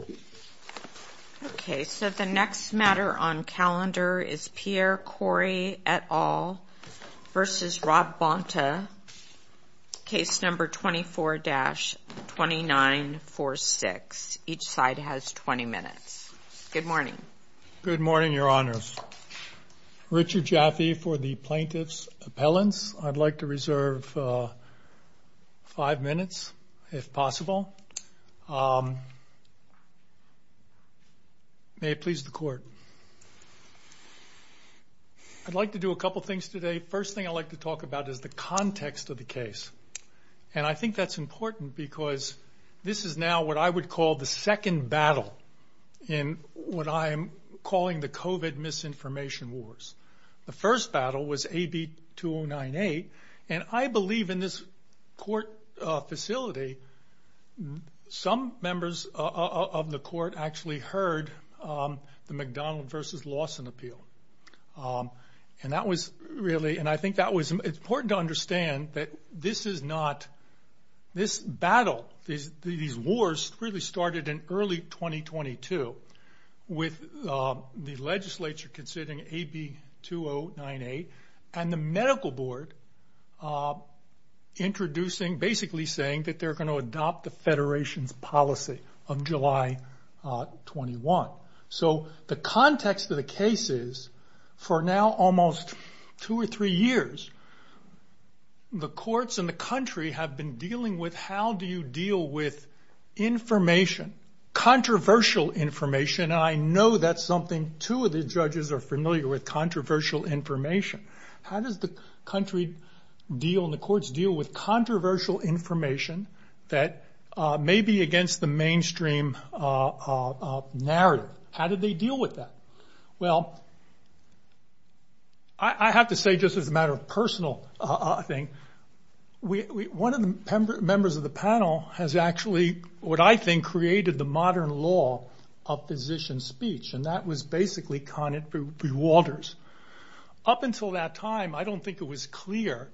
24-2946. Each side has 20 minutes. Good morning. Good morning, Your Honors. Richard Jaffe for the Plaintiff's Appellants. I'd like to reserve five minutes, if possible, for the court. May it please the court. I'd like to do a couple things today. First thing I'd like to talk about is the context of the case. And I think that's important because this is now what I would call the second battle in what I'm calling the COVID misinformation wars. The first battle was AB 2098, and I believe in this court facility, some of the members of the court actually heard the McDonald v. Lawson appeal. And I think it's important to understand that this battle, these wars, really started in early 2022 with the legislature considering AB 2098 and the medical board introducing, basically saying that they're going to adopt the federation's policy of July 21. So the context of the case is, for now almost two or three years, the courts and the country have been dealing with how do you deal with information, controversial information, and I know that's something two of the judges are familiar with, controversial information. How does the country deal, and that may be against the mainstream narrative. How do they deal with that? Well, I have to say just as a matter of personal thing, one of the members of the panel has actually, what I think, created the modern law of physician speech, and that was basically Conant v. Walters. Up until that time, I don't think it was clear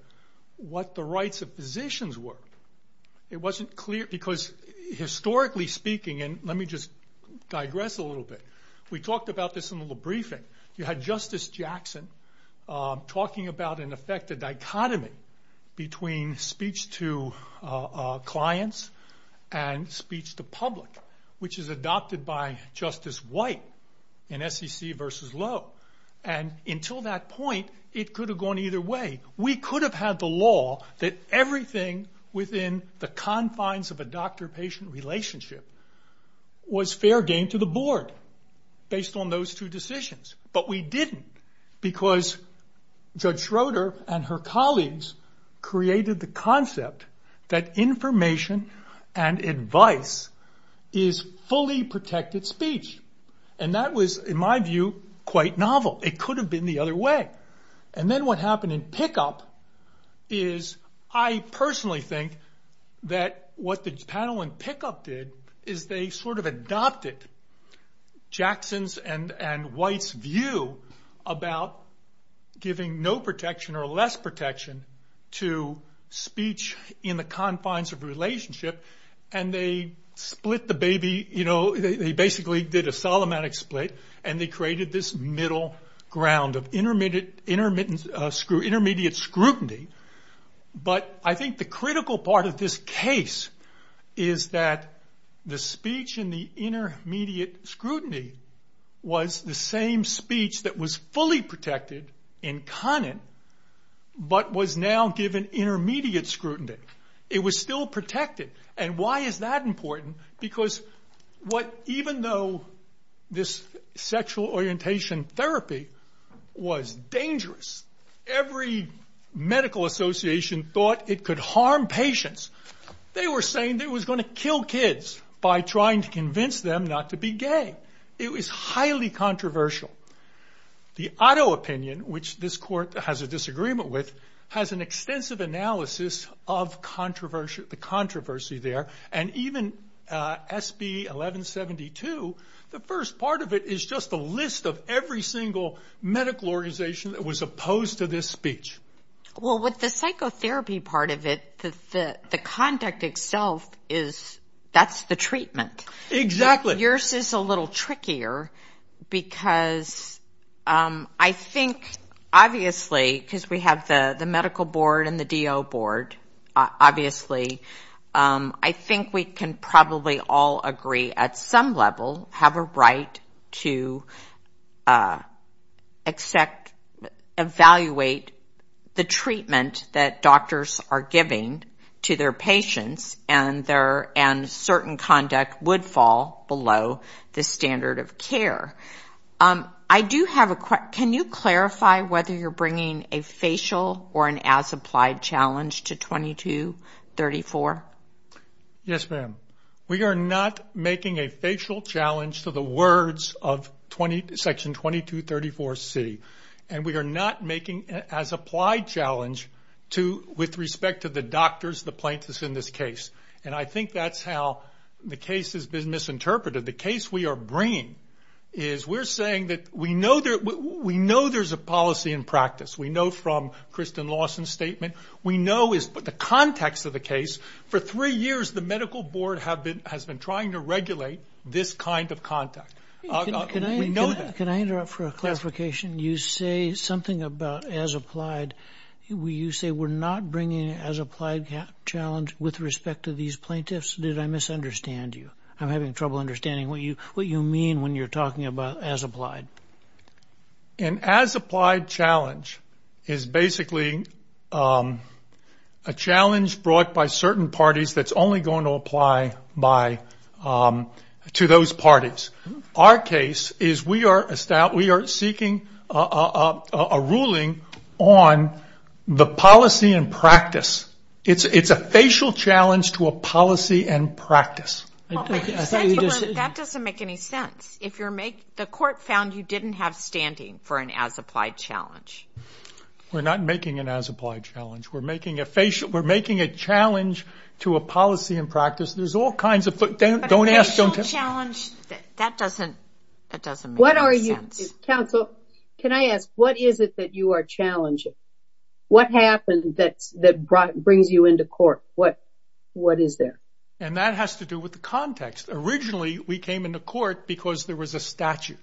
what the rights of physicians were. It wasn't clear, because historically speaking, and let me just digress a little bit. We talked about this in the briefing. You had Justice Jackson talking about, in effect, the dichotomy between speech to clients and speech to public, which is adopted by Justice White in SEC v. Lowe. Until that point, it could have gone either way. We could have had the law that everything within the confines of a doctor-patient relationship was fair game to the board, based on those two decisions, but we didn't, because Judge Schroeder and her colleagues created the concept that information and advice is fully protected speech. That was, in my view, quite novel. It could have been the other way. Then what happened in Pickup is, I personally think that what the panel in Pickup did is they sort of adopted Jackson's and White's view about giving no protection or less protection to speech in the confines of a relationship, and they split the baby. They basically did a Solomonic split, and they created this middle ground of intermediate scrutiny. I think the critical part of this case is that the speech in the intermediate scrutiny was the same speech that was fully protected in Conant, but was now given intermediate scrutiny. It was still protected, and why is that important? Because even though this sexual orientation therapy was dangerous, every medical association thought it could harm patients. They were saying it was going to kill kids by trying to convince them not to be gay. It was highly controversial. The auto-opinion, which this court has a disagreement with, has an extensive analysis of the controversy there. Even SB 1172, the first part of it is just a list of every single medical organization that was opposed to this speech. Well, with the psychotherapy part of it, the conduct itself, that's the treatment. Exactly. Yours is a little trickier because I think, obviously, because we have the medical board and the DO board, obviously, I think we can probably all agree at some level have a right to evaluate the treatment that doctors are giving to their patients, and certain conduct would fall below the standard of care. Can you clarify whether you're bringing a facial or an as-applied challenge to 2234? Yes, ma'am. We are not making a facial challenge to the words of Section 2234C, and we are not making an as-applied challenge with respect to the doctors, the plaintiffs in this case. I think that's how the case has been misinterpreted. The case we are bringing is, we're saying that we know there's a policy in practice. We know from Kristen Lawson's statement, we know the context of the case. For three years, the medical board has been trying to regulate this kind of contact. Can I interrupt for a clarification? You say something about as-applied. You say we're not bringing an as-applied challenge with respect to these plaintiffs. Did I misunderstand you? I'm having trouble understanding what you mean when you're talking about as-applied. An as-applied challenge is basically a challenge brought by certain parties that's only going to apply to those parties. Our case is, we are seeking a ruling on the policy in practice. It's a facial challenge to a policy in practice. That doesn't make any sense. The court found you didn't have standing for an as-applied challenge. We're not making an as-applied challenge. We're making a challenge to a policy in practice. There's all kinds of... Facial challenge, that doesn't make any sense. Counsel, can I ask, what is it that you are challenging? What happened that brings you into court? What is there? That has to do with the context. Originally, we came into court because there was a statute.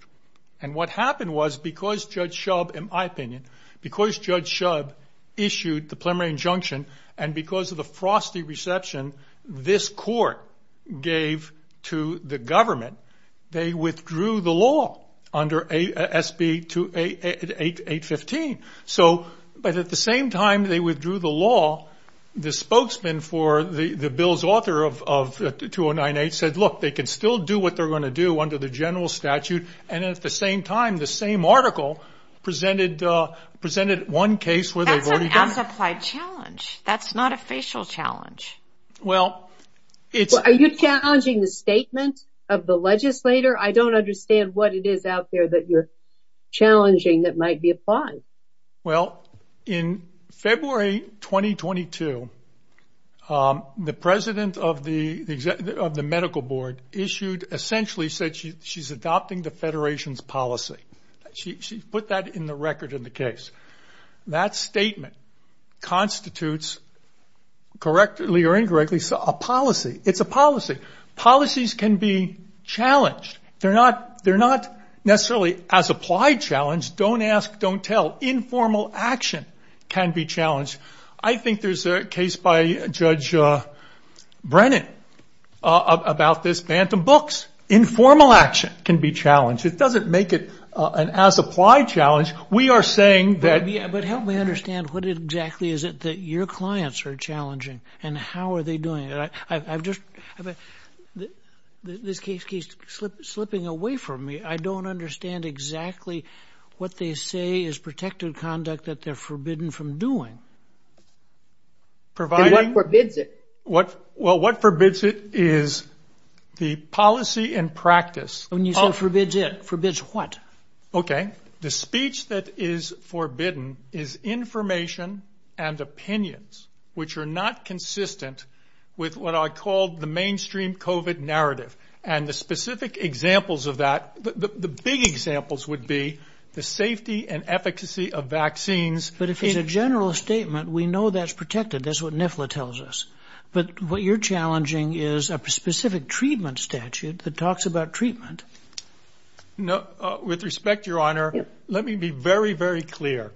What happened was, because Judge Shub, in my opinion, because Judge Shub issued the preliminary injunction, and because of the frosty reception this court gave to the government, they withdrew the law under SB 815. At the same time they withdrew the law, the spokesman for the bill's author of 2098 said, they can still do what they're going to do under the general statute. At the same time, the same article presented one case where they've already done it. That's an as-applied challenge. That's not a facial challenge. Are you challenging the statement of the legislator? I don't understand what it is out there that you're challenging that might be applied. In February 2022, the president of the medical board issued, essentially said she's adopting the federation's policy. She put that in the record in the case. That statement constitutes correctly or incorrectly a policy. It's a policy. Policies can be challenged. They're not necessarily as-applied challenge. Don't ask, don't tell. Informal action can be challenged. I think there's a case by Judge Brennan about this phantom books. Informal action can be challenged. It doesn't make it an as-applied challenge. We are saying that... Help me understand what exactly is it that your clients are challenging and how are they doing it? This case keeps slipping away from me. I don't understand exactly what they say is protected conduct that they're forbidden from doing. Providing what forbids it. What forbids it is the policy and practice. You said forbids it. Forbids what? Okay. The speech that is forbidden is information and opinions which are not consistent with what I call the mainstream COVID narrative. The specific examples of that, the big examples would be the safety and efficacy of vaccines. But if it's a general statement, we know that's protected. That's what NIFLA tells us. But what you're challenging is a specific treatment statute that talks about treatment. With respect, Your Honor, let me be very, very clear.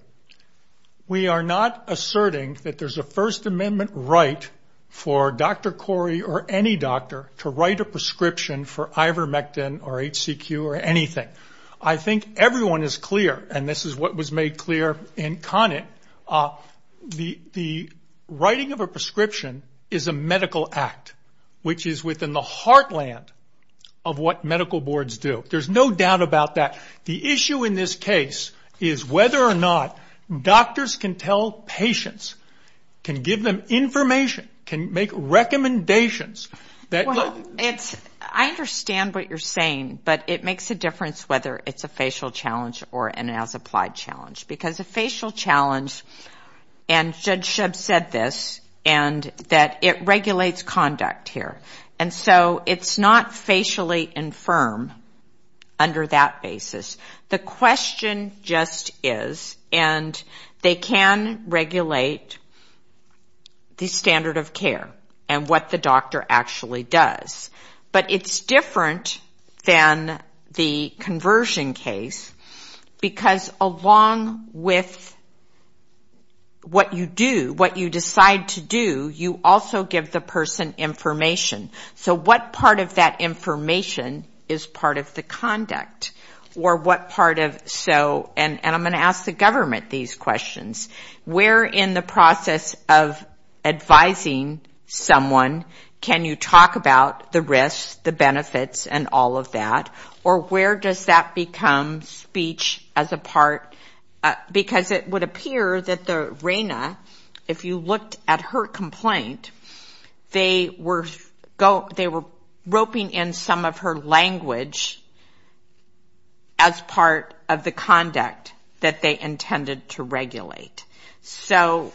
We are not asserting that there's a First Amendment right for Dr. Corey or any doctor to write a prescription for ivermectin or HCQ or anything. I think everyone is clear, and this is what was made clear in Conant. The writing of a prescription is a medical act, which is within the heartland of what medical boards do. There's no doubt about that. The issue in this case is whether or not doctors can tell patients, can give them information, can make recommendations that... I understand what you're saying, but it makes a difference whether it's a facial challenge or an as-applied challenge. Because a facial challenge, and Judge Shub said this, that it regulates conduct here. And so it's not facially infirm under that basis. The question just is, and they can regulate the standard of care and what the doctor actually does. But it's different than the conversion case, because along with what you do, what you decide to do, you also give the person information. So what part of that information is part of the conduct? Or what part of... And I'm going to ask the government these questions. Where in the process of advising someone can you talk about the risks, the benefits, and all of that? Or where does that become speech as a part? Because it would appear that the Rena, if you looked at her complaint, they were roping in some of her language as part of the conduct that they intended to regulate. So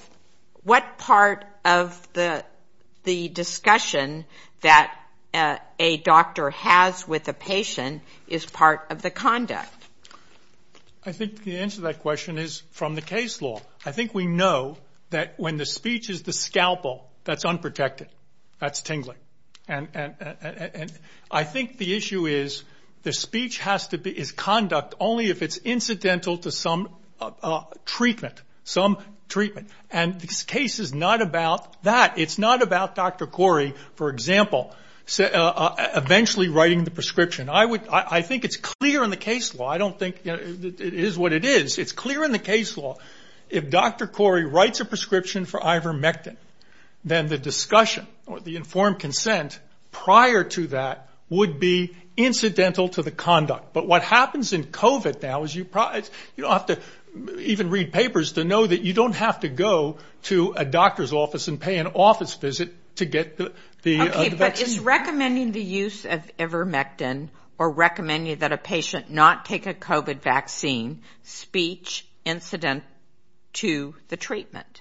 what part of the discussion that a doctor has with a patient is part of the conduct? I think the answer to that question is from the case law. I think we know that when the speech is the scalpel, that's unprotected. That's tingling. And I think the issue is, the speech is conduct only if it's incidental to some treatment. And this case is not about that. It's not about Dr. Corey, for example, eventually writing the prescription. I think it's clear in the case law. I don't think it is what it is. It's clear in the case law. If Dr. Corey writes a prescription for ivermectin, then the discussion or the informed consent prior to that would be incidental to the conduct. But what happens in COVID now is you don't have to even read papers to know that you don't have to go to a doctor's office and pay an office visit to get the vaccine. Is recommending the use of ivermectin or recommending that a patient not take a COVID vaccine speech incident to the treatment?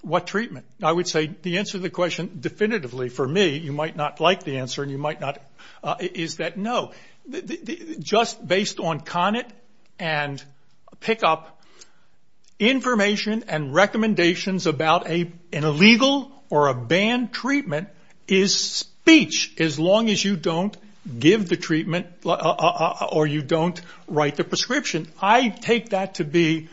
What treatment? I would say the answer to the question definitively for me, you might not like the answer and you might not, is that no. Just based on CONIT and PICOP, information and recommendations about an illegal or a banned treatment is speech, as long as you don't give the treatment or you don't write the prescription. I take that to be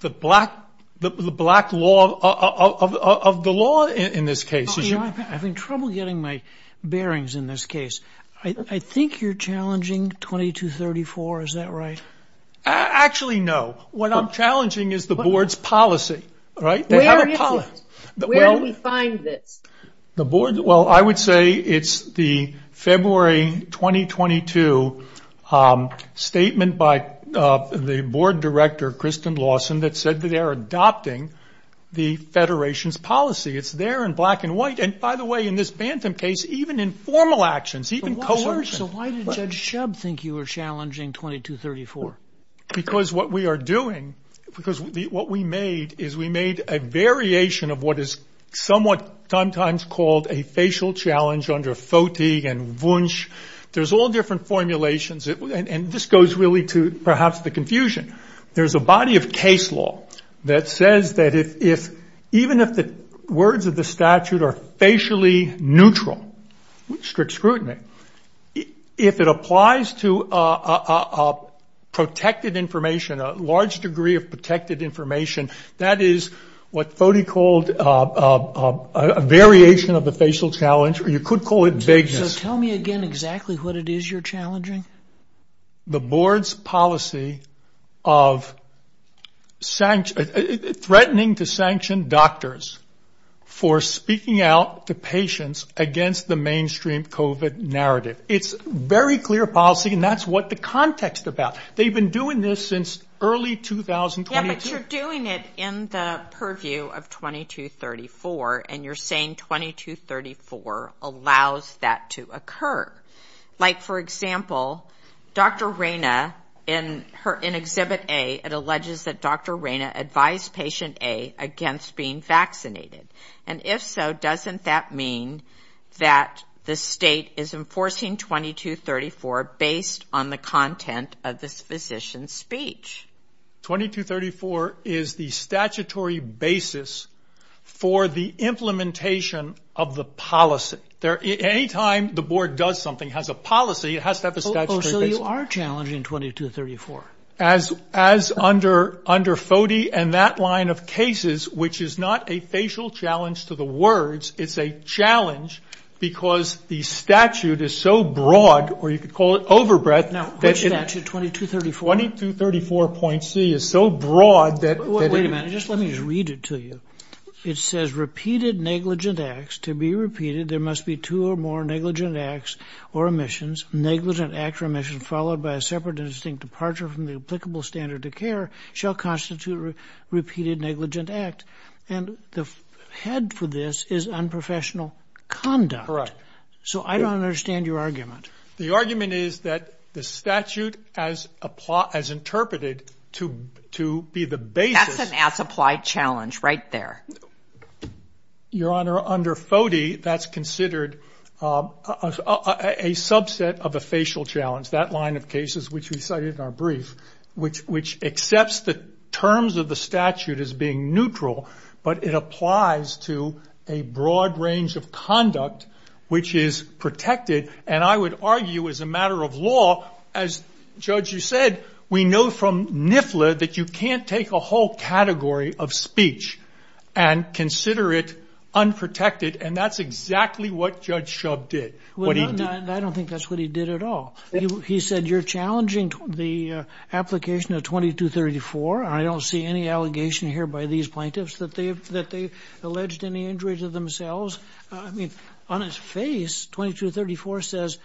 the black law of the law in this case. I'm having trouble getting my bearings in this case. I think you're challenging 2234. Is that right? Actually, no. What I'm challenging is the board's policy. Where is it? Where do we find this? I would say it's the February 2022 statement by the board director, Kristen Lawson, that said that they are adopting the Federation's policy. It's there in black and white. By the way, in this Bantam case, even in formal actions, even coercion. Why did Judge Shub think you were challenging 2234? Because what we are doing, what we made, is we made a variation of what is sometimes called a facial challenge under Foti and Wunsch. There's all different formulations. This goes really to perhaps the confusion. There's a body of case law that says that even if the words of the statute are facially neutral, strict scrutiny, if it applies to a large degree of protected information, that is what Foti called a variation of the facial challenge. You could call it vagueness. Tell me again exactly what it is you're challenging. The board's policy of threatening to sanction doctors. For speaking out to patients against the mainstream COVID narrative. It's very clear policy and that's what the context is about. They've been doing this since early 2022. Yeah, but you're doing it in the purview of 2234 and you're saying 2234 allows that to occur. Like for example, Dr. Reyna in exhibit A, it alleges that Dr. Reyna advised patient A against being vaccinated. And if so, doesn't that mean that the state is enforcing 2234 based on the content of this physician's speech? 2234 is the statutory basis for the implementation of the policy. Anytime the board does something has a policy, it has to have a statutory basis. Oh, so you are challenging 2234? As under Foti and that line of cases, which is not a facial challenge to the words, it's a challenge because the statute is so broad, or you could call it overbreadth. Now, which statute, 2234? 2234.C is so broad that- Wait a minute, just let me read it to you. It says, repeated negligent acts. To be repeated, there must be two or more negligent acts or omissions. Negligent act or omission followed by a separate and distinct departure from the applicable standard of care shall constitute repeated negligent act. And the head for this is unprofessional conduct. So I don't understand your argument. The argument is that the statute as interpreted to be the basis- That's an as-applied challenge right there. Your Honor, under Foti, that's considered a subset of a facial challenge. That line of cases, which we cited in our brief, which accepts the terms of the statute as being neutral, but it applies to a broad range of conduct, which is protected. And I would argue as a matter of law, as Judge, you said, we know from NIFLA that you can't take a whole category of speech and consider it unprotected. And that's exactly what Judge Shub did. I don't think that's what he did at all. He said, you're challenging the application of 2234. I don't see any allegation here by these plaintiffs that they've alleged any injury to themselves. I mean, on his face, 2234 says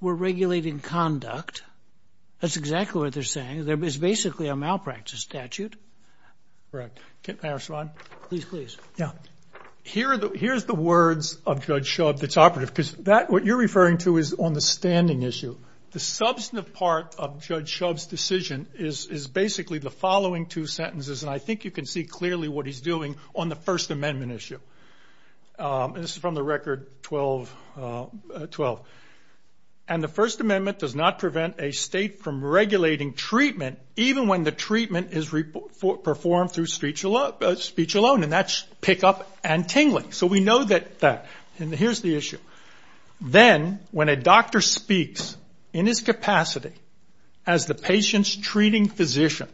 we're regulating conduct. That's correct. May I respond? Please, please. Here's the words of Judge Shub that's operative, because what you're referring to is on the standing issue. The substantive part of Judge Shub's decision is basically the following two sentences, and I think you can see clearly what he's doing on the First Amendment issue. And this is from the Record 12-12. And the First Amendment does not prevent a state from performing through speech alone, and that's pick up and tingling. So we know that. And here's the issue. Then, when a doctor speaks in his capacity as the patient's treating physician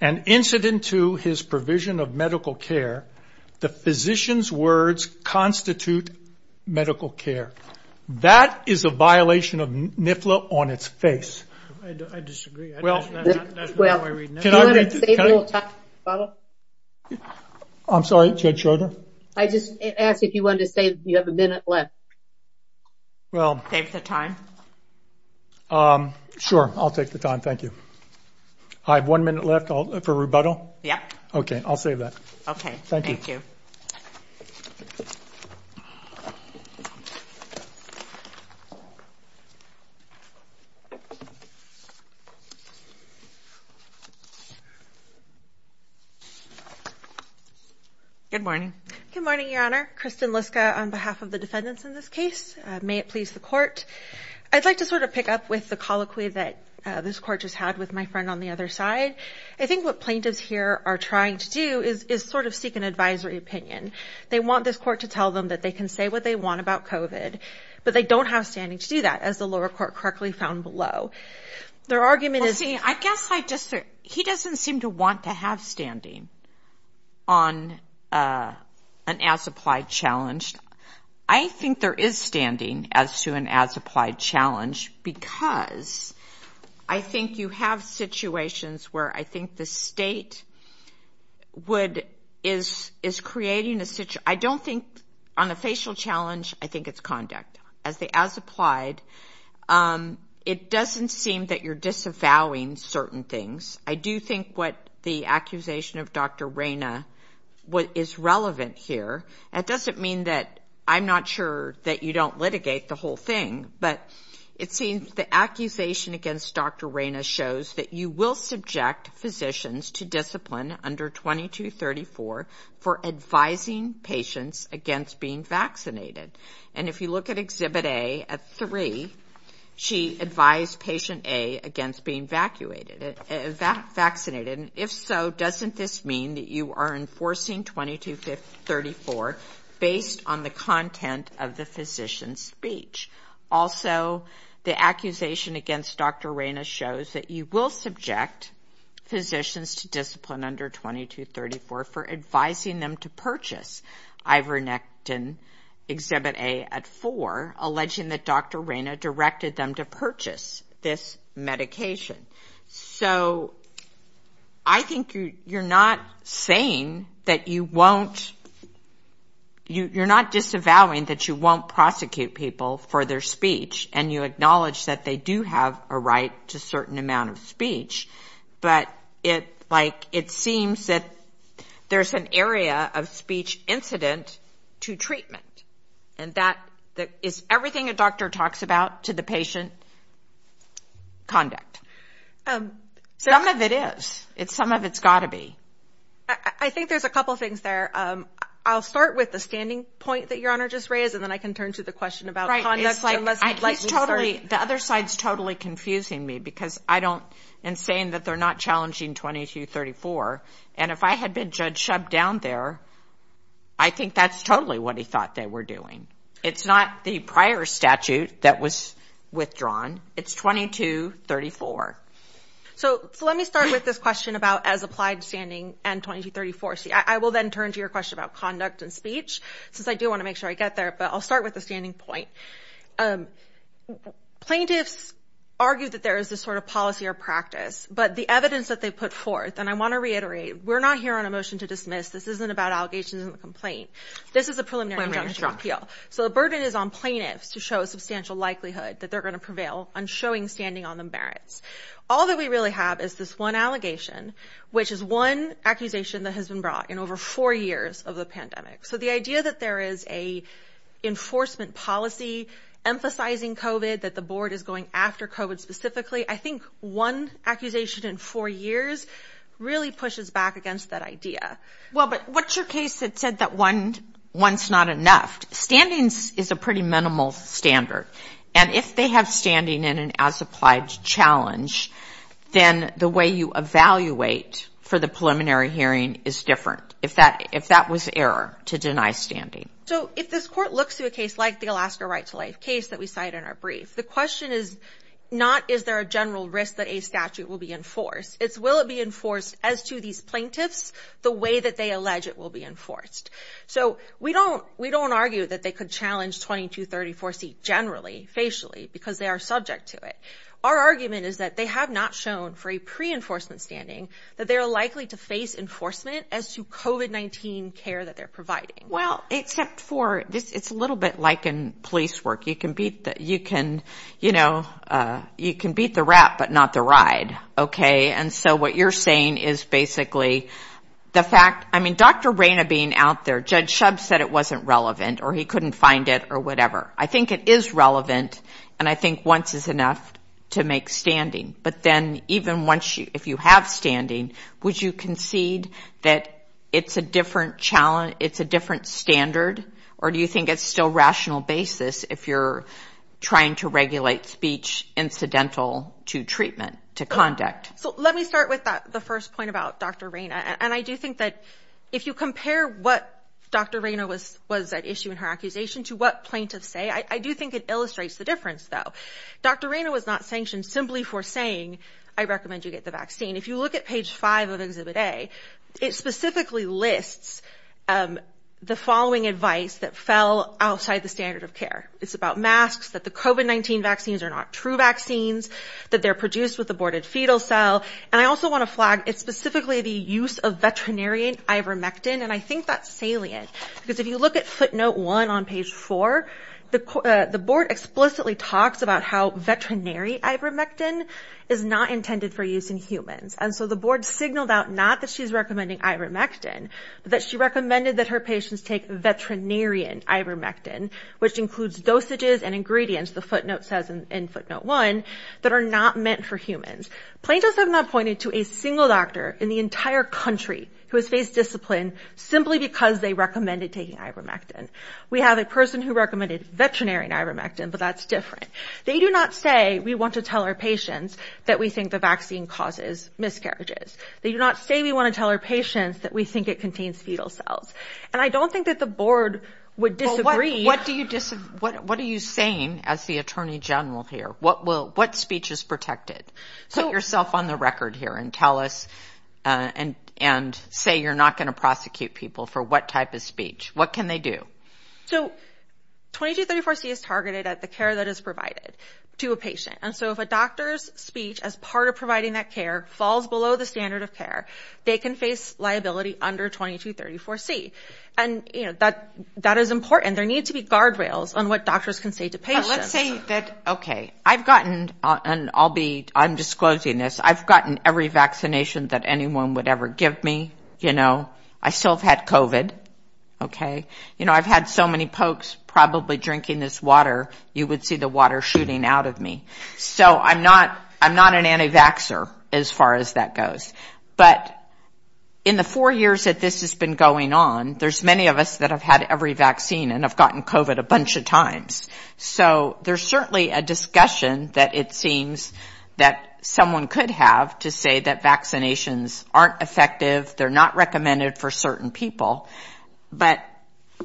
and incident to his provision of medical care, the physician's words constitute medical care. That is a violation of NIFLA on its face. I disagree. That's not my reading. I'm sorry, Judge Schroeder? I just asked if you wanted to save, you have a minute left. Well, save the time. Sure, I'll take the time. Thank you. I have one minute left for rebuttal? Yeah. Okay, I'll save that. Okay, thank you. Thank you. Good morning. Good morning, Your Honor. Kristen Liska on behalf of the defendants in this case. May it please the court. I'd like to sort of pick up with the colloquy that this court just had with my friend on the other side. I think what plaintiffs here are trying to do is sort of seek an advisory opinion. They want this court to tell them that they can say what they want about COVID, but they don't have standing to do that, as the lower court correctly found below. Their argument is... He doesn't seem to want to have standing on an as-applied challenge. I think there is standing as to an as-applied challenge because I think you have situations where I think the state is creating a... I don't think on a facial challenge, I think it's as-applied. It doesn't seem that you're disavowing certain things. I do think what the accusation of Dr. Reyna is relevant here. It doesn't mean that I'm not sure that you don't litigate the whole thing, but it seems the accusation against Dr. Reyna shows that you will subject physicians to discipline under 2234 for advising patients against being vaccinated. And if you look at Exhibit A at 3, she advised patient A against being vaccinated. If so, doesn't this mean that you are enforcing 2234 based on the content of the physician's speech? Also, the accusation against Dr. Reyna shows that you will subject physicians to discipline under 2234 for advising them to purchase ivernectin, Exhibit A at 4, alleging that Dr. Reyna directed them to purchase this medication. So I think you're not saying that you won't... you're not disavowing that you won't prosecute people for their speech and you acknowledge that they do have a right to a certain amount of speech, but it seems that there's an area of speech incident to treatment and that is everything a doctor talks about to the patient conduct. Some of it is. Some of it's got to be. I think there's a couple things there. I'll start with the standing point that Your Honor just raised and then I can turn to the question about... The other side is totally confusing me because I don't... and saying that they're not challenging 2234. And if I had been judged down there, I think that's totally what he thought they were doing. It's not the prior statute that was withdrawn. It's 2234. So let me start with this question about as applied standing and 2234. I will then turn to your question about conduct and speech, since I do want to make sure I get there, but I'll start with the standing point. Plaintiffs argue that there is this sort of policy or practice, but the evidence that they put forth, and I want to reiterate, we're not here on a motion to dismiss. This isn't about allegations and the complaint. This is a preliminary injunction appeal. So the burden is on plaintiffs to show a substantial likelihood that they're going to prevail on showing standing on the merits. All that we really have is this one allegation, which is one accusation that has been brought in over four years of the pandemic. So the idea that there is a enforcement policy emphasizing COVID, that the board is going after COVID specifically, I think one accusation in four years really pushes back against that idea. Well, but what's your case that said that one's not enough? Standings is a pretty minimal standard. And if they have standing in an as-applied challenge, then the way you evaluate for the preliminary hearing is different, if that was error to deny standing. So if this court looks to a case like the Alaska Right to Life case that we cite in our brief, the question is not, is there a general risk that a statute will be enforced? It's, will it be enforced as to these plaintiffs, the way that they allege it will be enforced? So we don't, we don't argue that they could challenge 2234C generally, facially, because they are subject to it. Our argument is that they have not shown for a pre-enforcement standing that they're likely to face enforcement as to COVID-19 care that they're providing. Well, except for this, it's a little bit like in police work. You can beat the, you can, you know, you can beat the rat, but not the ride. Okay. And so what you're saying is it wasn't relevant, or he couldn't find it or whatever. I think it is relevant, and I think once is enough to make standing. But then even once you, if you have standing, would you concede that it's a different challenge, it's a different standard, or do you think it's still rational basis if you're trying to regulate speech incidental to treatment, to conduct? So let me start with the first point about Dr. Rain. And I do think that if you compare what Dr. Raina was, was that issue in her accusation to what plaintiffs say, I do think it illustrates the difference though. Dr. Raina was not sanctioned simply for saying, I recommend you get the vaccine. If you look at page five of exhibit A, it specifically lists the following advice that fell outside the standard of care. It's about masks, that the COVID-19 vaccines are not true vaccines, that they're produced with aborted fetal cell. And I also want to flag, it's specifically the use of veterinarian ivermectin, and I think that's salient. Because if you look at footnote one on page four, the board explicitly talks about how veterinary ivermectin is not intended for use in humans. And so the board signaled out, not that she's recommending ivermectin, but that she recommended that her patients take veterinarian ivermectin, which includes dosages and ingredients, the board appointed to a single doctor in the entire country who has faced discipline simply because they recommended taking ivermectin. We have a person who recommended veterinary ivermectin, but that's different. They do not say we want to tell our patients that we think the vaccine causes miscarriages. They do not say we want to tell our patients that we think it contains fetal cells. And I don't think that the board would disagree. What do you disagree, what are you saying as the attorney general here? What will, what speech is protected? Put yourself on the record here and tell us and say you're not going to prosecute people for what type of speech. What can they do? So 2234C is targeted at the care that is provided to a patient. And so if a doctor's speech as part of providing that care falls below the standard of care, they can face liability under 2234C. And that is important. There need to be guardrails on what doctors can say to patients. Let's say that, okay, I've gotten, and I'll be, I'm disclosing this, I've gotten every vaccination that anyone would ever give me, you know. I still have had COVID, okay. You know, I've had so many pokes probably drinking this water, you would see the water shooting out of me. So I'm not, I'm not an anti-vaxxer as far as that goes. But in the four years that this has been going on, there's many of us that have had every vaccine and have So there's certainly a discussion that it seems that someone could have to say that vaccinations aren't effective, they're not recommended for certain people. But,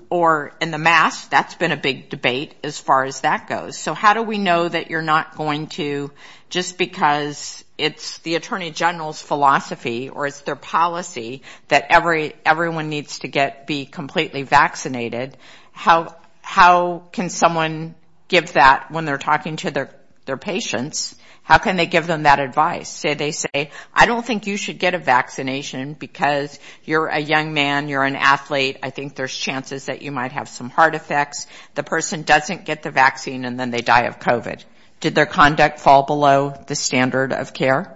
or in the mass, that's been a big debate as far as that goes. So how do we know that you're not going to just because it's the Attorney General's philosophy or it's their policy that everyone needs to get, be completely vaccinated, how can someone give that when they're talking to their patients? How can they give them that advice? Say they say, I don't think you should get a vaccination because you're a young man, you're an athlete, I think there's chances that you might have some heart effects. The person doesn't get the vaccine and then they die of COVID. Did their conduct fall below the standard of care?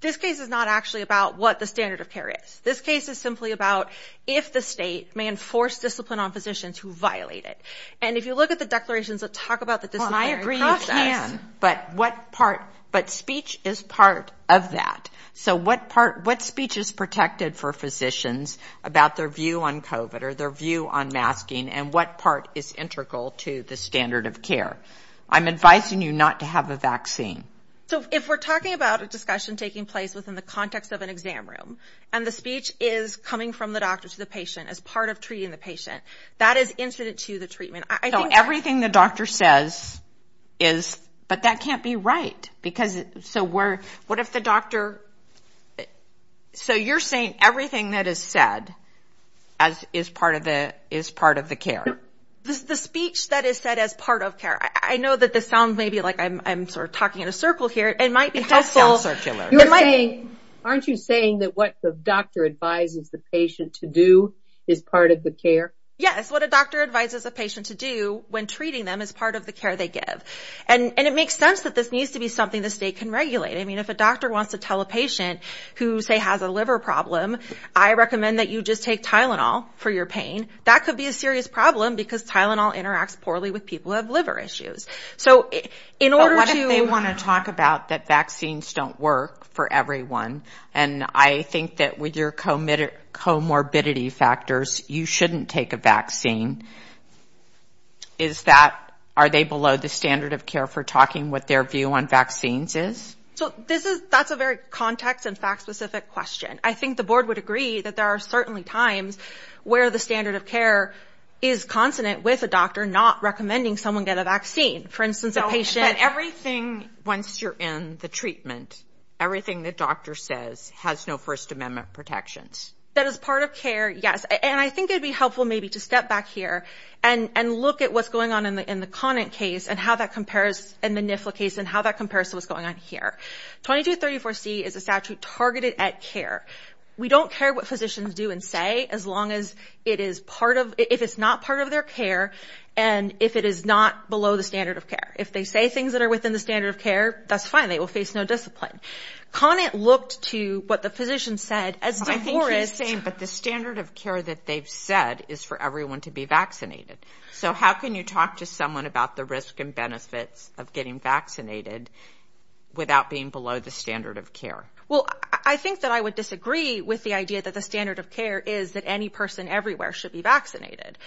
This case is not actually about what the standard of care is. This case is simply about if the state may enforce discipline on physicians who violate it. And if you look at the declarations that talk about the disciplinary process, but what part, but speech is part of that. So what part, what speech is protected for physicians about their view on COVID or their view on masking and what part is integral to the standard of care? I'm advising you not to have a vaccine. So if we're talking about a discussion taking place within the context of an exam room and the speech is coming from the doctor to the patient as part of treating the patient, that is incident to the treatment. I think everything the doctor says is, but that can't be right because so we're, what if the doctor, so you're saying everything that is said as is part of the, is part of the care. The speech that is said as part of care. I know that this sounds maybe like I'm sort of talking in a circle here. It might be helpful. You're saying, aren't you saying that what the doctor advises the patient to do is part of the care? Yes. What a doctor advises a patient to do when treating them as part of the care they give. And it makes sense that this needs to be something the state can regulate. I mean, if a doctor wants to tell a patient who say has a liver problem, I recommend that you just take Tylenol for your pain. That could be a serious problem because Tylenol interacts poorly with people who have liver issues. So in order to... But what if they want to talk about that vaccines don't work for everyone and I think that with your comorbidity factors, you shouldn't take a vaccine. Is that, are they below the standard of care for talking what their view on vaccines is? So this is, that's a very context and fact specific question. I think the board would agree that there are certainly times where the standard of care is consonant with a doctor, not recommending someone get a vaccine. For instance, a patient... But everything, once you're in the treatment, everything the doctor says has no First Amendment protections. That is part of care, yes. And I think it'd be helpful maybe to step back here and look at what's going on in the Conant case and how that compares and the Nifla case and how that compares to what's going on here. 2234C is a statute targeted at care. We don't care what physicians do and say as long as it is part of, if it's not part of their care and if it is not below the standard of care. If they say things that are within the standard of care, that's fine. They will face no discipline. Conant looked to what the physician said... I think he's saying, but the standard of care that they've said is for everyone to be vaccinated. So how can you talk to someone about the risk and benefits of getting vaccinated without being below the standard of care? Well, I think that I would disagree with the idea that the standard of care is that any person everywhere should be vaccinated.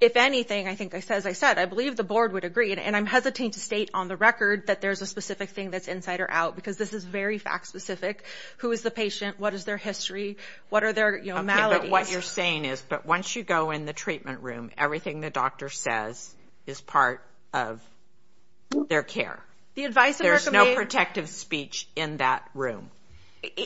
If anything, I think, as I said, I believe the board would agree, and I'm hesitating to state on the record that there's a specific thing that's insider out because this is very fact specific. Who is the patient? What is their history? What are their maladies? Okay, but what you're saying is, but once you go in the treatment room, everything the doctor says is part of their care. The advice... There's no protective speech in that room.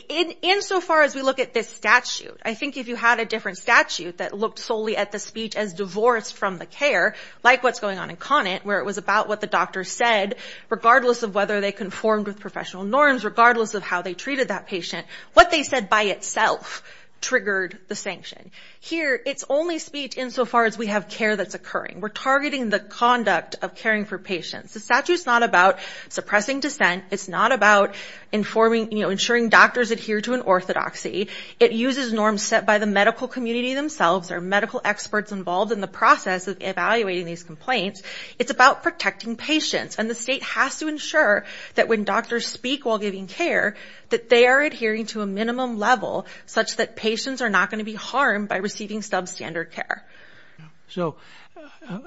In so far as we look at this statute, I think if you had a different statute that looked solely at the speech as divorced from the care, like what's going on in Conant, where it was about what the doctor said, regardless of whether they conformed with professional norms, regardless of how they treated that patient, what they said by itself triggered the sanction. Here, it's only speech in so far as we have care that's occurring. We're ensuring doctors adhere to an orthodoxy. It uses norms set by the medical community themselves, or medical experts involved in the process of evaluating these complaints. It's about protecting patients, and the state has to ensure that when doctors speak while giving care, that they are adhering to a minimum level such that patients are not going to be harmed by receiving substandard care. So,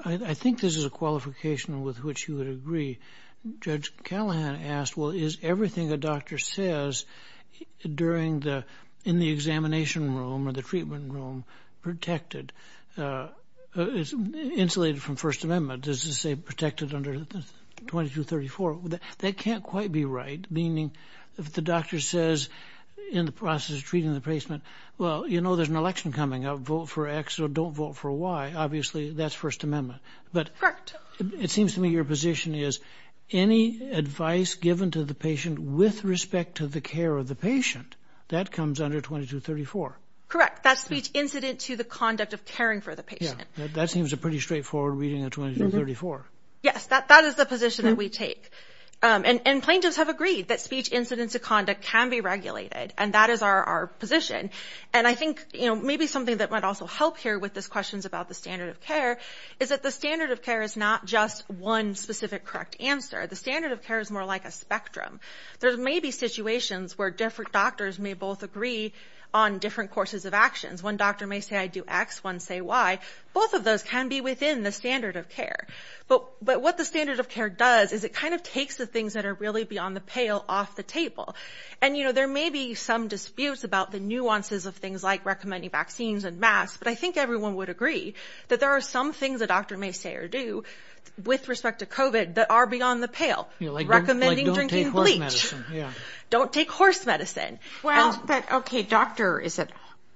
I think this is a qualification with which you would agree. Judge Callahan asked, well, is everything a doctor says in the examination room or the treatment room insulated from First Amendment? Does it say protected under 2234? That can't quite be right. Meaning, if the doctor says in the process of treating the patient, well, you know there's an election coming up. Vote for X or don't vote for Y. Obviously, that's First Amendment. Correct. It seems to me your position is any advice given to the patient with respect to the care of the patient, that comes under 2234. Correct. That's speech incident to the conduct of caring for the patient. Yeah. That seems a pretty straightforward reading of 2234. Yes. That is the position that we take. And plaintiffs have agreed that speech incidents of conduct can be regulated, and that is our position. And I think, you know, maybe something that might also help here with these questions about the standard of care is that the standard of care is not just one specific correct answer. The standard of care is more like a spectrum. There may be situations where different doctors may both agree on different courses of actions. One doctor may say I do X, one say Y. Both of those can be within the standard of care. But what the standard of care does is it kind of takes the things that are really beyond the pale off the table. And, you know, there may be some disputes about the nuances of things like recommending vaccines and masks, but I think everyone would with respect to COVID that are beyond the pale. Recommending drinking bleach. Like don't take horse medicine. Yeah. Don't take horse medicine. Well, but, okay, doctor, is it,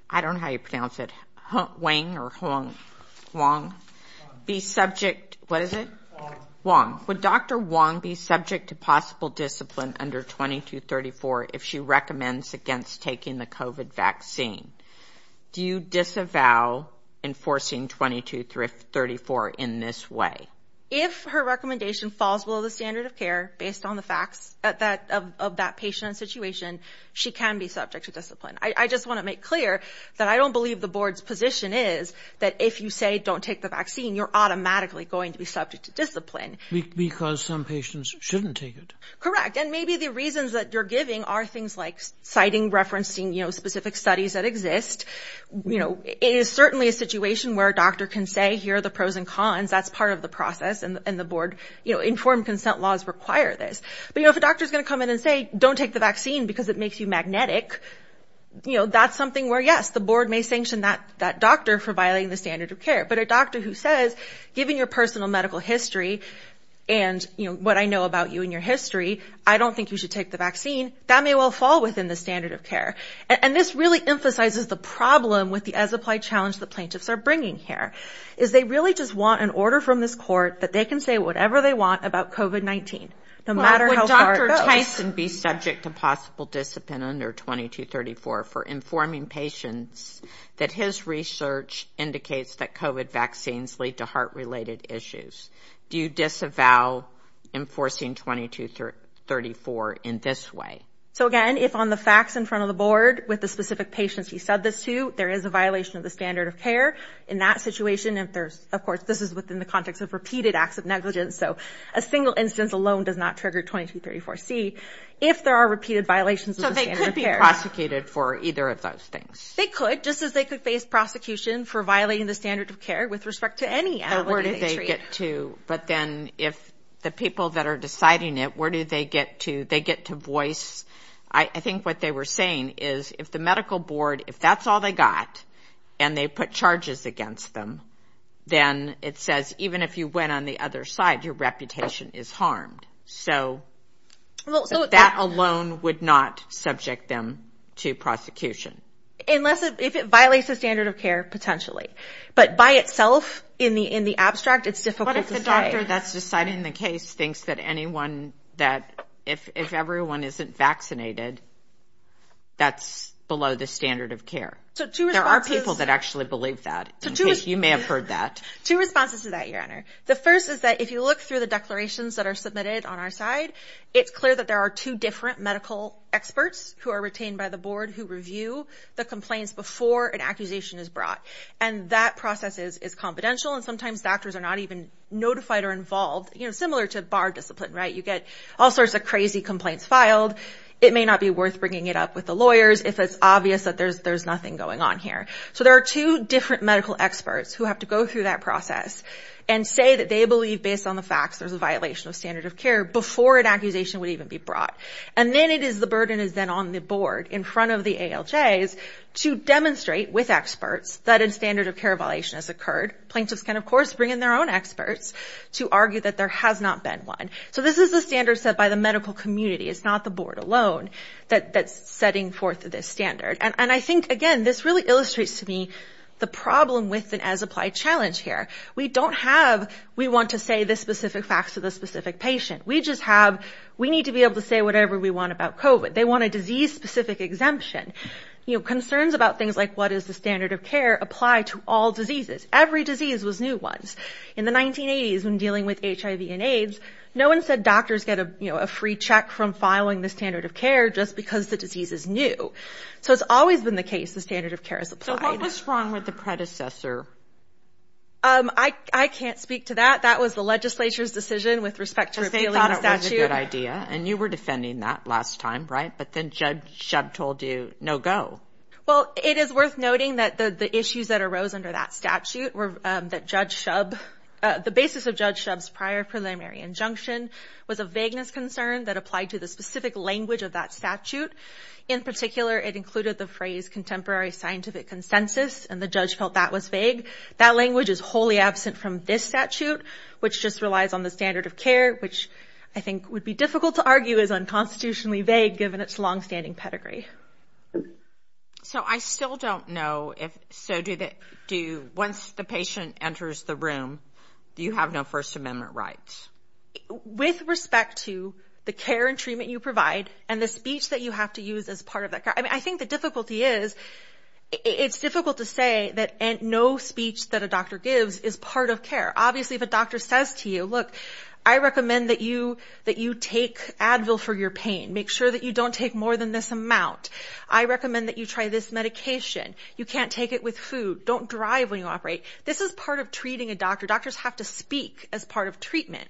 I don't know how you pronounce it, Wang or Wong, be subject, what is it? Wong. Wong. Would Dr. Wong be subject to possible discipline under 2234 if she recommends against taking the COVID vaccine? Do you disavow enforcing 2234 in this way? If her recommendation falls below the standard of care based on the facts of that patient and situation, she can be subject to discipline. I just want to make clear that I don't believe the board's position is that if you say don't take the vaccine, you're automatically going to be subject to discipline. Because some patients shouldn't take it. Correct. And maybe the reasons that you're giving are things like citing, referencing, you know, specific studies that exist. You know, it is certainly a situation where a doctor can say here are the pros and cons, that's part of the process, and the board, you know, informed consent laws require this. But, you know, if a doctor's going to come in and say don't take the vaccine because it makes you magnetic, you know, that's something where, yes, the board may sanction that doctor for violating the standard of care. But a doctor who says, given your personal medical history and, you know, what I know about you and your history, I don't think you should take the vaccine, that may well fall within the standard of care. And this really emphasizes the problem with the as applied challenge the plaintiffs are bringing here, is they really just want an order from this court that they can say whatever they want about COVID-19, no matter how far it Well, would Dr. Tyson be subject to possible discipline under 2234 for informing patients that his research indicates that COVID vaccines lead to heart-related issues? Do you disavow enforcing 2234 in this way? So, again, if on the facts in front of the board, with the specific patients he said this to, there is a violation of the standard of care in that situation, and of course, this is within the context of repeated acts of negligence, so a single instance alone does not trigger 2234C, if there are repeated violations of the standard of care. So they could be prosecuted for either of those things? They could, just as they could face prosecution for violating the standard of care with respect Where do they get to? But then if the people that are deciding it, where do they get to? They get to voice, I think what they were saying is if the medical board, if that's all they got, and they put charges against them, then it says even if you went on the other side, your reputation is harmed. So that alone would not subject them to prosecution. Unless, if it violates the standard of care, potentially. But by itself, in the abstract, it's difficult to say. What if the doctor that's deciding the case thinks that anyone that, if everyone isn't vaccinated, that's below the standard of care? There are people that actually believe that. You may have heard that. Two responses to that, Your Honor. The first is that if you look through the declarations that are submitted on our side, it's clear that there are two different medical experts who are retained by the board who review the complaints before an accusation is brought. And that process is confidential, and sometimes doctors are not even notified or involved. Similar to bar discipline, right? You get all sorts of crazy complaints filed. It may not be worth bringing it up with the lawyers if it's obvious that there's nothing going on here. So there are two different medical experts who have to go through that process and say that they believe, based on the facts, there's a violation of standard of care before an accusation would even be brought. And then it is, the burden is then on the board, in front of the ALJs, to demonstrate with experts that a standard of care violation has occurred. Plaintiffs can, of course, bring in their own experts to argue that there has not been one. So this is the standard set by the medical community. It's not the board alone that's setting forth this standard. And I think, again, this really illustrates to me the problem with an as-applied challenge here. We don't have, we want to say the specific facts to the specific patient. We just have, we need to be able to say whatever we want about COVID. They want a disease-specific exemption. You know, concerns about things like what is the standard of care apply to all diseases. Every disease was new once. In the 1980s, when dealing with HIV and AIDS, no one said doctors get a free check from filing the standard of care just because the disease is new. So it's always been the case the standard of care is applied. So what was wrong with the predecessor? I can't speak to that. That was the legislature's decision with respect to repealing the statute. Because they thought it was a good idea. And you were defending that last time, right? But then Judge Shub told you, no go. Well, it is worth noting that the issues that arose under that statute were that Judge Shub, the basis of Judge Shub's prior preliminary injunction was a vagueness concern that applied to the specific language of that statute. In particular, it included the phrase contemporary scientific consensus. And the judge felt that was vague. That language is wholly absent from this statute, which just relies on the standard of care, which I think would be difficult to argue is unconstitutionally vague given its longstanding pedigree. So I still don't know if, so do, once the patient enters the room, you have no First Amendment rights? With respect to the care and treatment you provide and the speech that you have to use as part of that, I think the difficulty is it's difficult to say that no speech that a doctor gives is part of care. Obviously, if a doctor says to you, look, I recommend that you take Advil for your pain. Make sure that you don't take more than this amount. I recommend that you try this medication. You can't take it with food. Don't drive when you operate. This is part of treating a doctor. Doctors have to speak as part of treatment.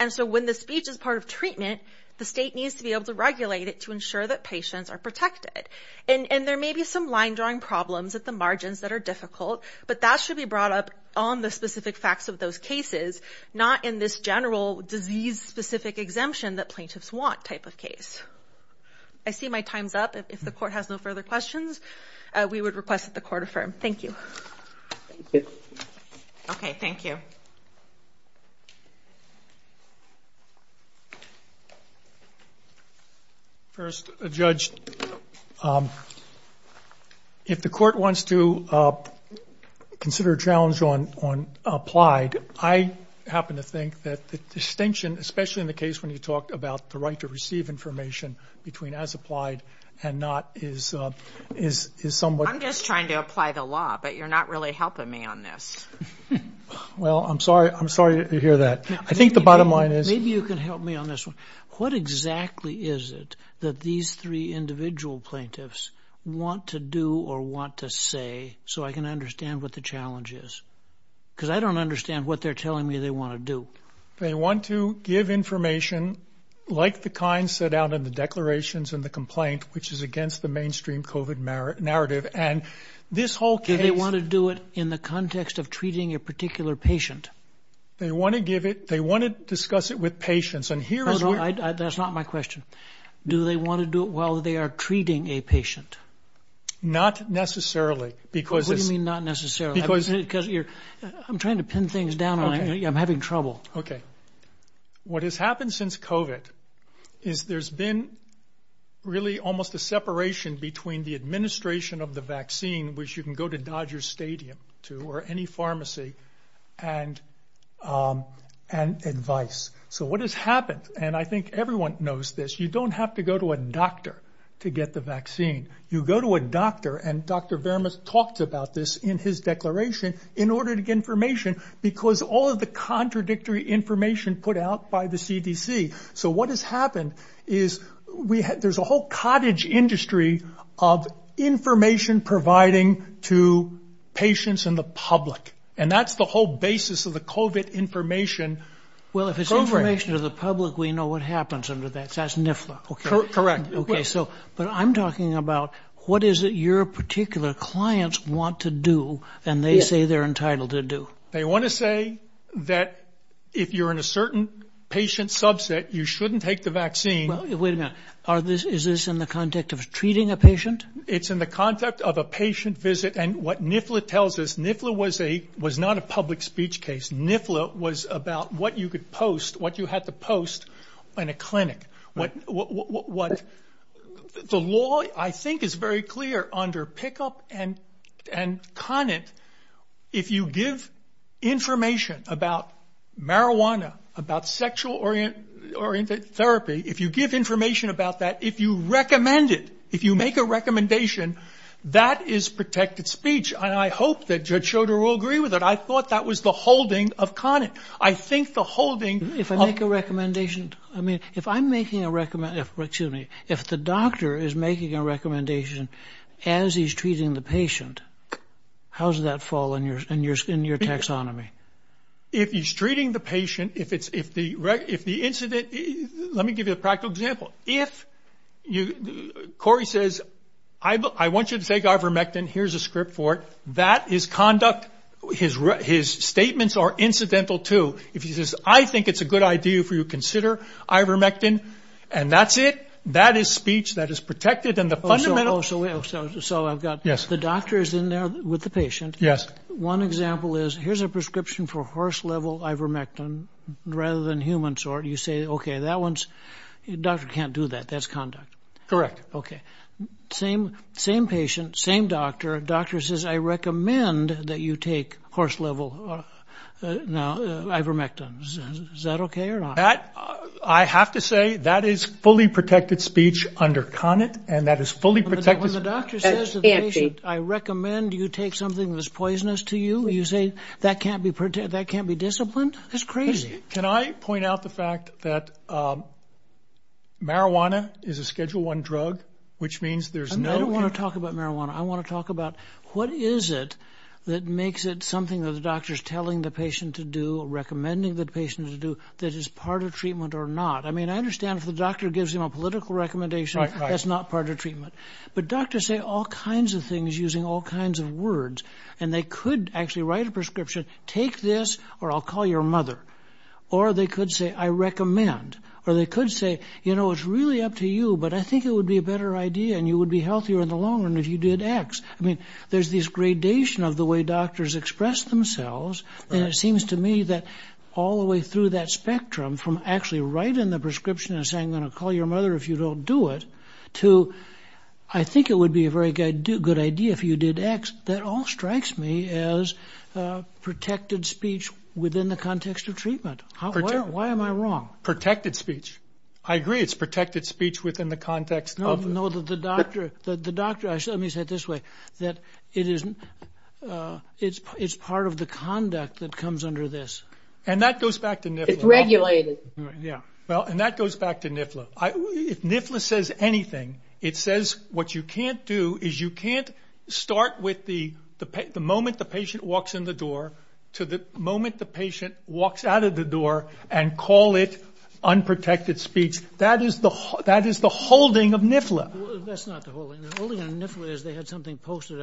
And so when the speech is part of treatment, the state needs to be able to regulate it to ensure that patients are protected. And there may be some line-drawing problems at the margins that are difficult, but that should be brought up on the specific facts of those cases, not in this general disease-specific exemption that plaintiffs want type of case. I see my time's up. If the court has no further questions, we would request that the court affirm. Thank you. Okay. Thank you. First, Judge, if the court wants to consider a challenge on applied, I happen to think that the distinction, especially in the case when you talked about the right to receive information between as applied and not is somewhat... I'm just trying to apply the law, but you're not really helping me on this. Well, I'm sorry to hear that. I think the bottom line is... Maybe you can help me on this one. What exactly is it that these three individual plaintiffs want to do or want to say so I can understand what the challenge is? Because I don't understand what they're telling me they want to do. They want to give information like the kind set out in the declarations in the complaint, which is against the mainstream COVID narrative, and this whole case... Do they want to do it in the context of treating a particular patient? They want to discuss it with patients, and here is where... No, no, that's not my question. Do they want to do it while they are treating a patient? Not necessarily, because... What do you mean not necessarily? Because... I'm trying to pin things down, and I'm having trouble. Okay. What has happened since COVID is there's been really almost a separation between the administration of the vaccine, which you can go to Dodger Stadium to, or any pharmacy, and advice. So what has happened, and I think everyone knows this, you don't have to go to a doctor to get the vaccine. You go to a doctor, and Dr. Verma talked about this in his declaration, in order to get information, because all of the contradictory information put out by the CDC. So what has happened is there's a whole cottage industry of information providing to patients and the public, and that's the whole basis of the COVID information program. Well, if it's information to the public, we know what happens under that. So that's NIFLA. Correct. But I'm talking about what is it your particular clients want to do, and they say they're entitled to do. They want to say that if you're in a certain patient subset, you shouldn't take the vaccine. Wait a minute. Is this in the context of treating a patient? It's in the context of a patient visit, and what NIFLA tells us, NIFLA was not a public speech case. NIFLA was about what you could post, what you had to post in a clinic. The law, I think, is very clear under PICKUP and CONIT. If you give information about marijuana, about sexual-oriented therapy, if you give information about that, if you recommend it, if you make a recommendation, that is protected speech, and I hope that Judge Schroeder will agree with it. I thought that was the holding of CONIT. I think the holding of – If I'm making a – excuse me. If the doctor is making a recommendation as he's treating the patient, how does that fall in your taxonomy? If he's treating the patient, if the incident – let me give you a practical example. If Corey says, I want you to take ivermectin, here's a script for it, that is conduct – his statements are incidental too. If he says, I think it's a good idea for you to consider ivermectin, and that's it, that is speech, that is protected, and the fundamental – So I've got the doctors in there with the patient. Yes. One example is, here's a prescription for horse-level ivermectin, rather than human sort. You say, okay, that one's – doctor can't do that. That's conduct. Correct. Okay. Same patient, same doctor. Doctor says, I recommend that you take horse-level ivermectin. Is that okay or not? That – I have to say, that is fully protected speech under CONIT, and that is fully protected – When the doctor says to the patient, I recommend you take something that's poisonous to you, you say, that can't be disciplined? That's crazy. Can I point out the fact that marijuana is a Schedule I drug, which means there's no – What is it that makes it something that the doctor's telling the patient to do, recommending the patient to do, that is part of treatment or not? I mean, I understand if the doctor gives him a political recommendation, that's not part of treatment. But doctors say all kinds of things using all kinds of words, and they could actually write a prescription, take this, or I'll call your mother. Or they could say, I recommend. Or they could say, you know, it's really up to you, but I think it would be a better idea and you would be healthier in the long run if you did X. I mean, there's this gradation of the way doctors express themselves, and it seems to me that all the way through that spectrum, from actually writing the prescription and saying, I'm going to call your mother if you don't do it, to, I think it would be a very good idea if you did X, that all strikes me as protected speech within the context of treatment. Why am I wrong? Protected speech. I agree, it's protected speech within the context of – No, the doctor – let me say it this way, that it's part of the conduct that comes under this. And that goes back to NIFLA. It's regulated. Yeah. Well, and that goes back to NIFLA. If NIFLA says anything, it says what you can't do is you can't start with the moment the patient walks in the door to the moment the patient walks out of the door and call it unprotected speech. That is the holding of NIFLA. That's not the holding. The holding of NIFLA is they had something posted.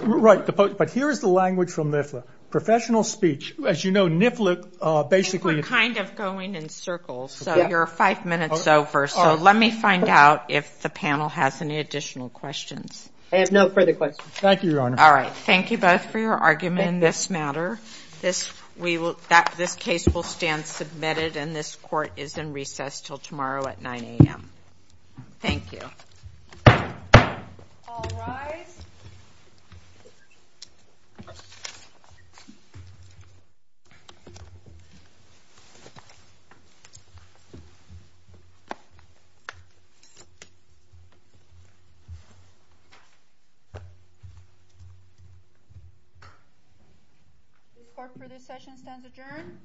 Right. But here is the language from NIFLA. Professional speech. As you know, NIFLA basically – We're kind of going in circles. So you're five minutes over. So let me find out if the panel has any additional questions. I have no further questions. Thank you, Your Honor. All right. Thank you both for your argument in this matter. This case will stand submitted, and this court is in recess until tomorrow at 9 a.m. Thank you. All rise. The court for this session stands adjourned.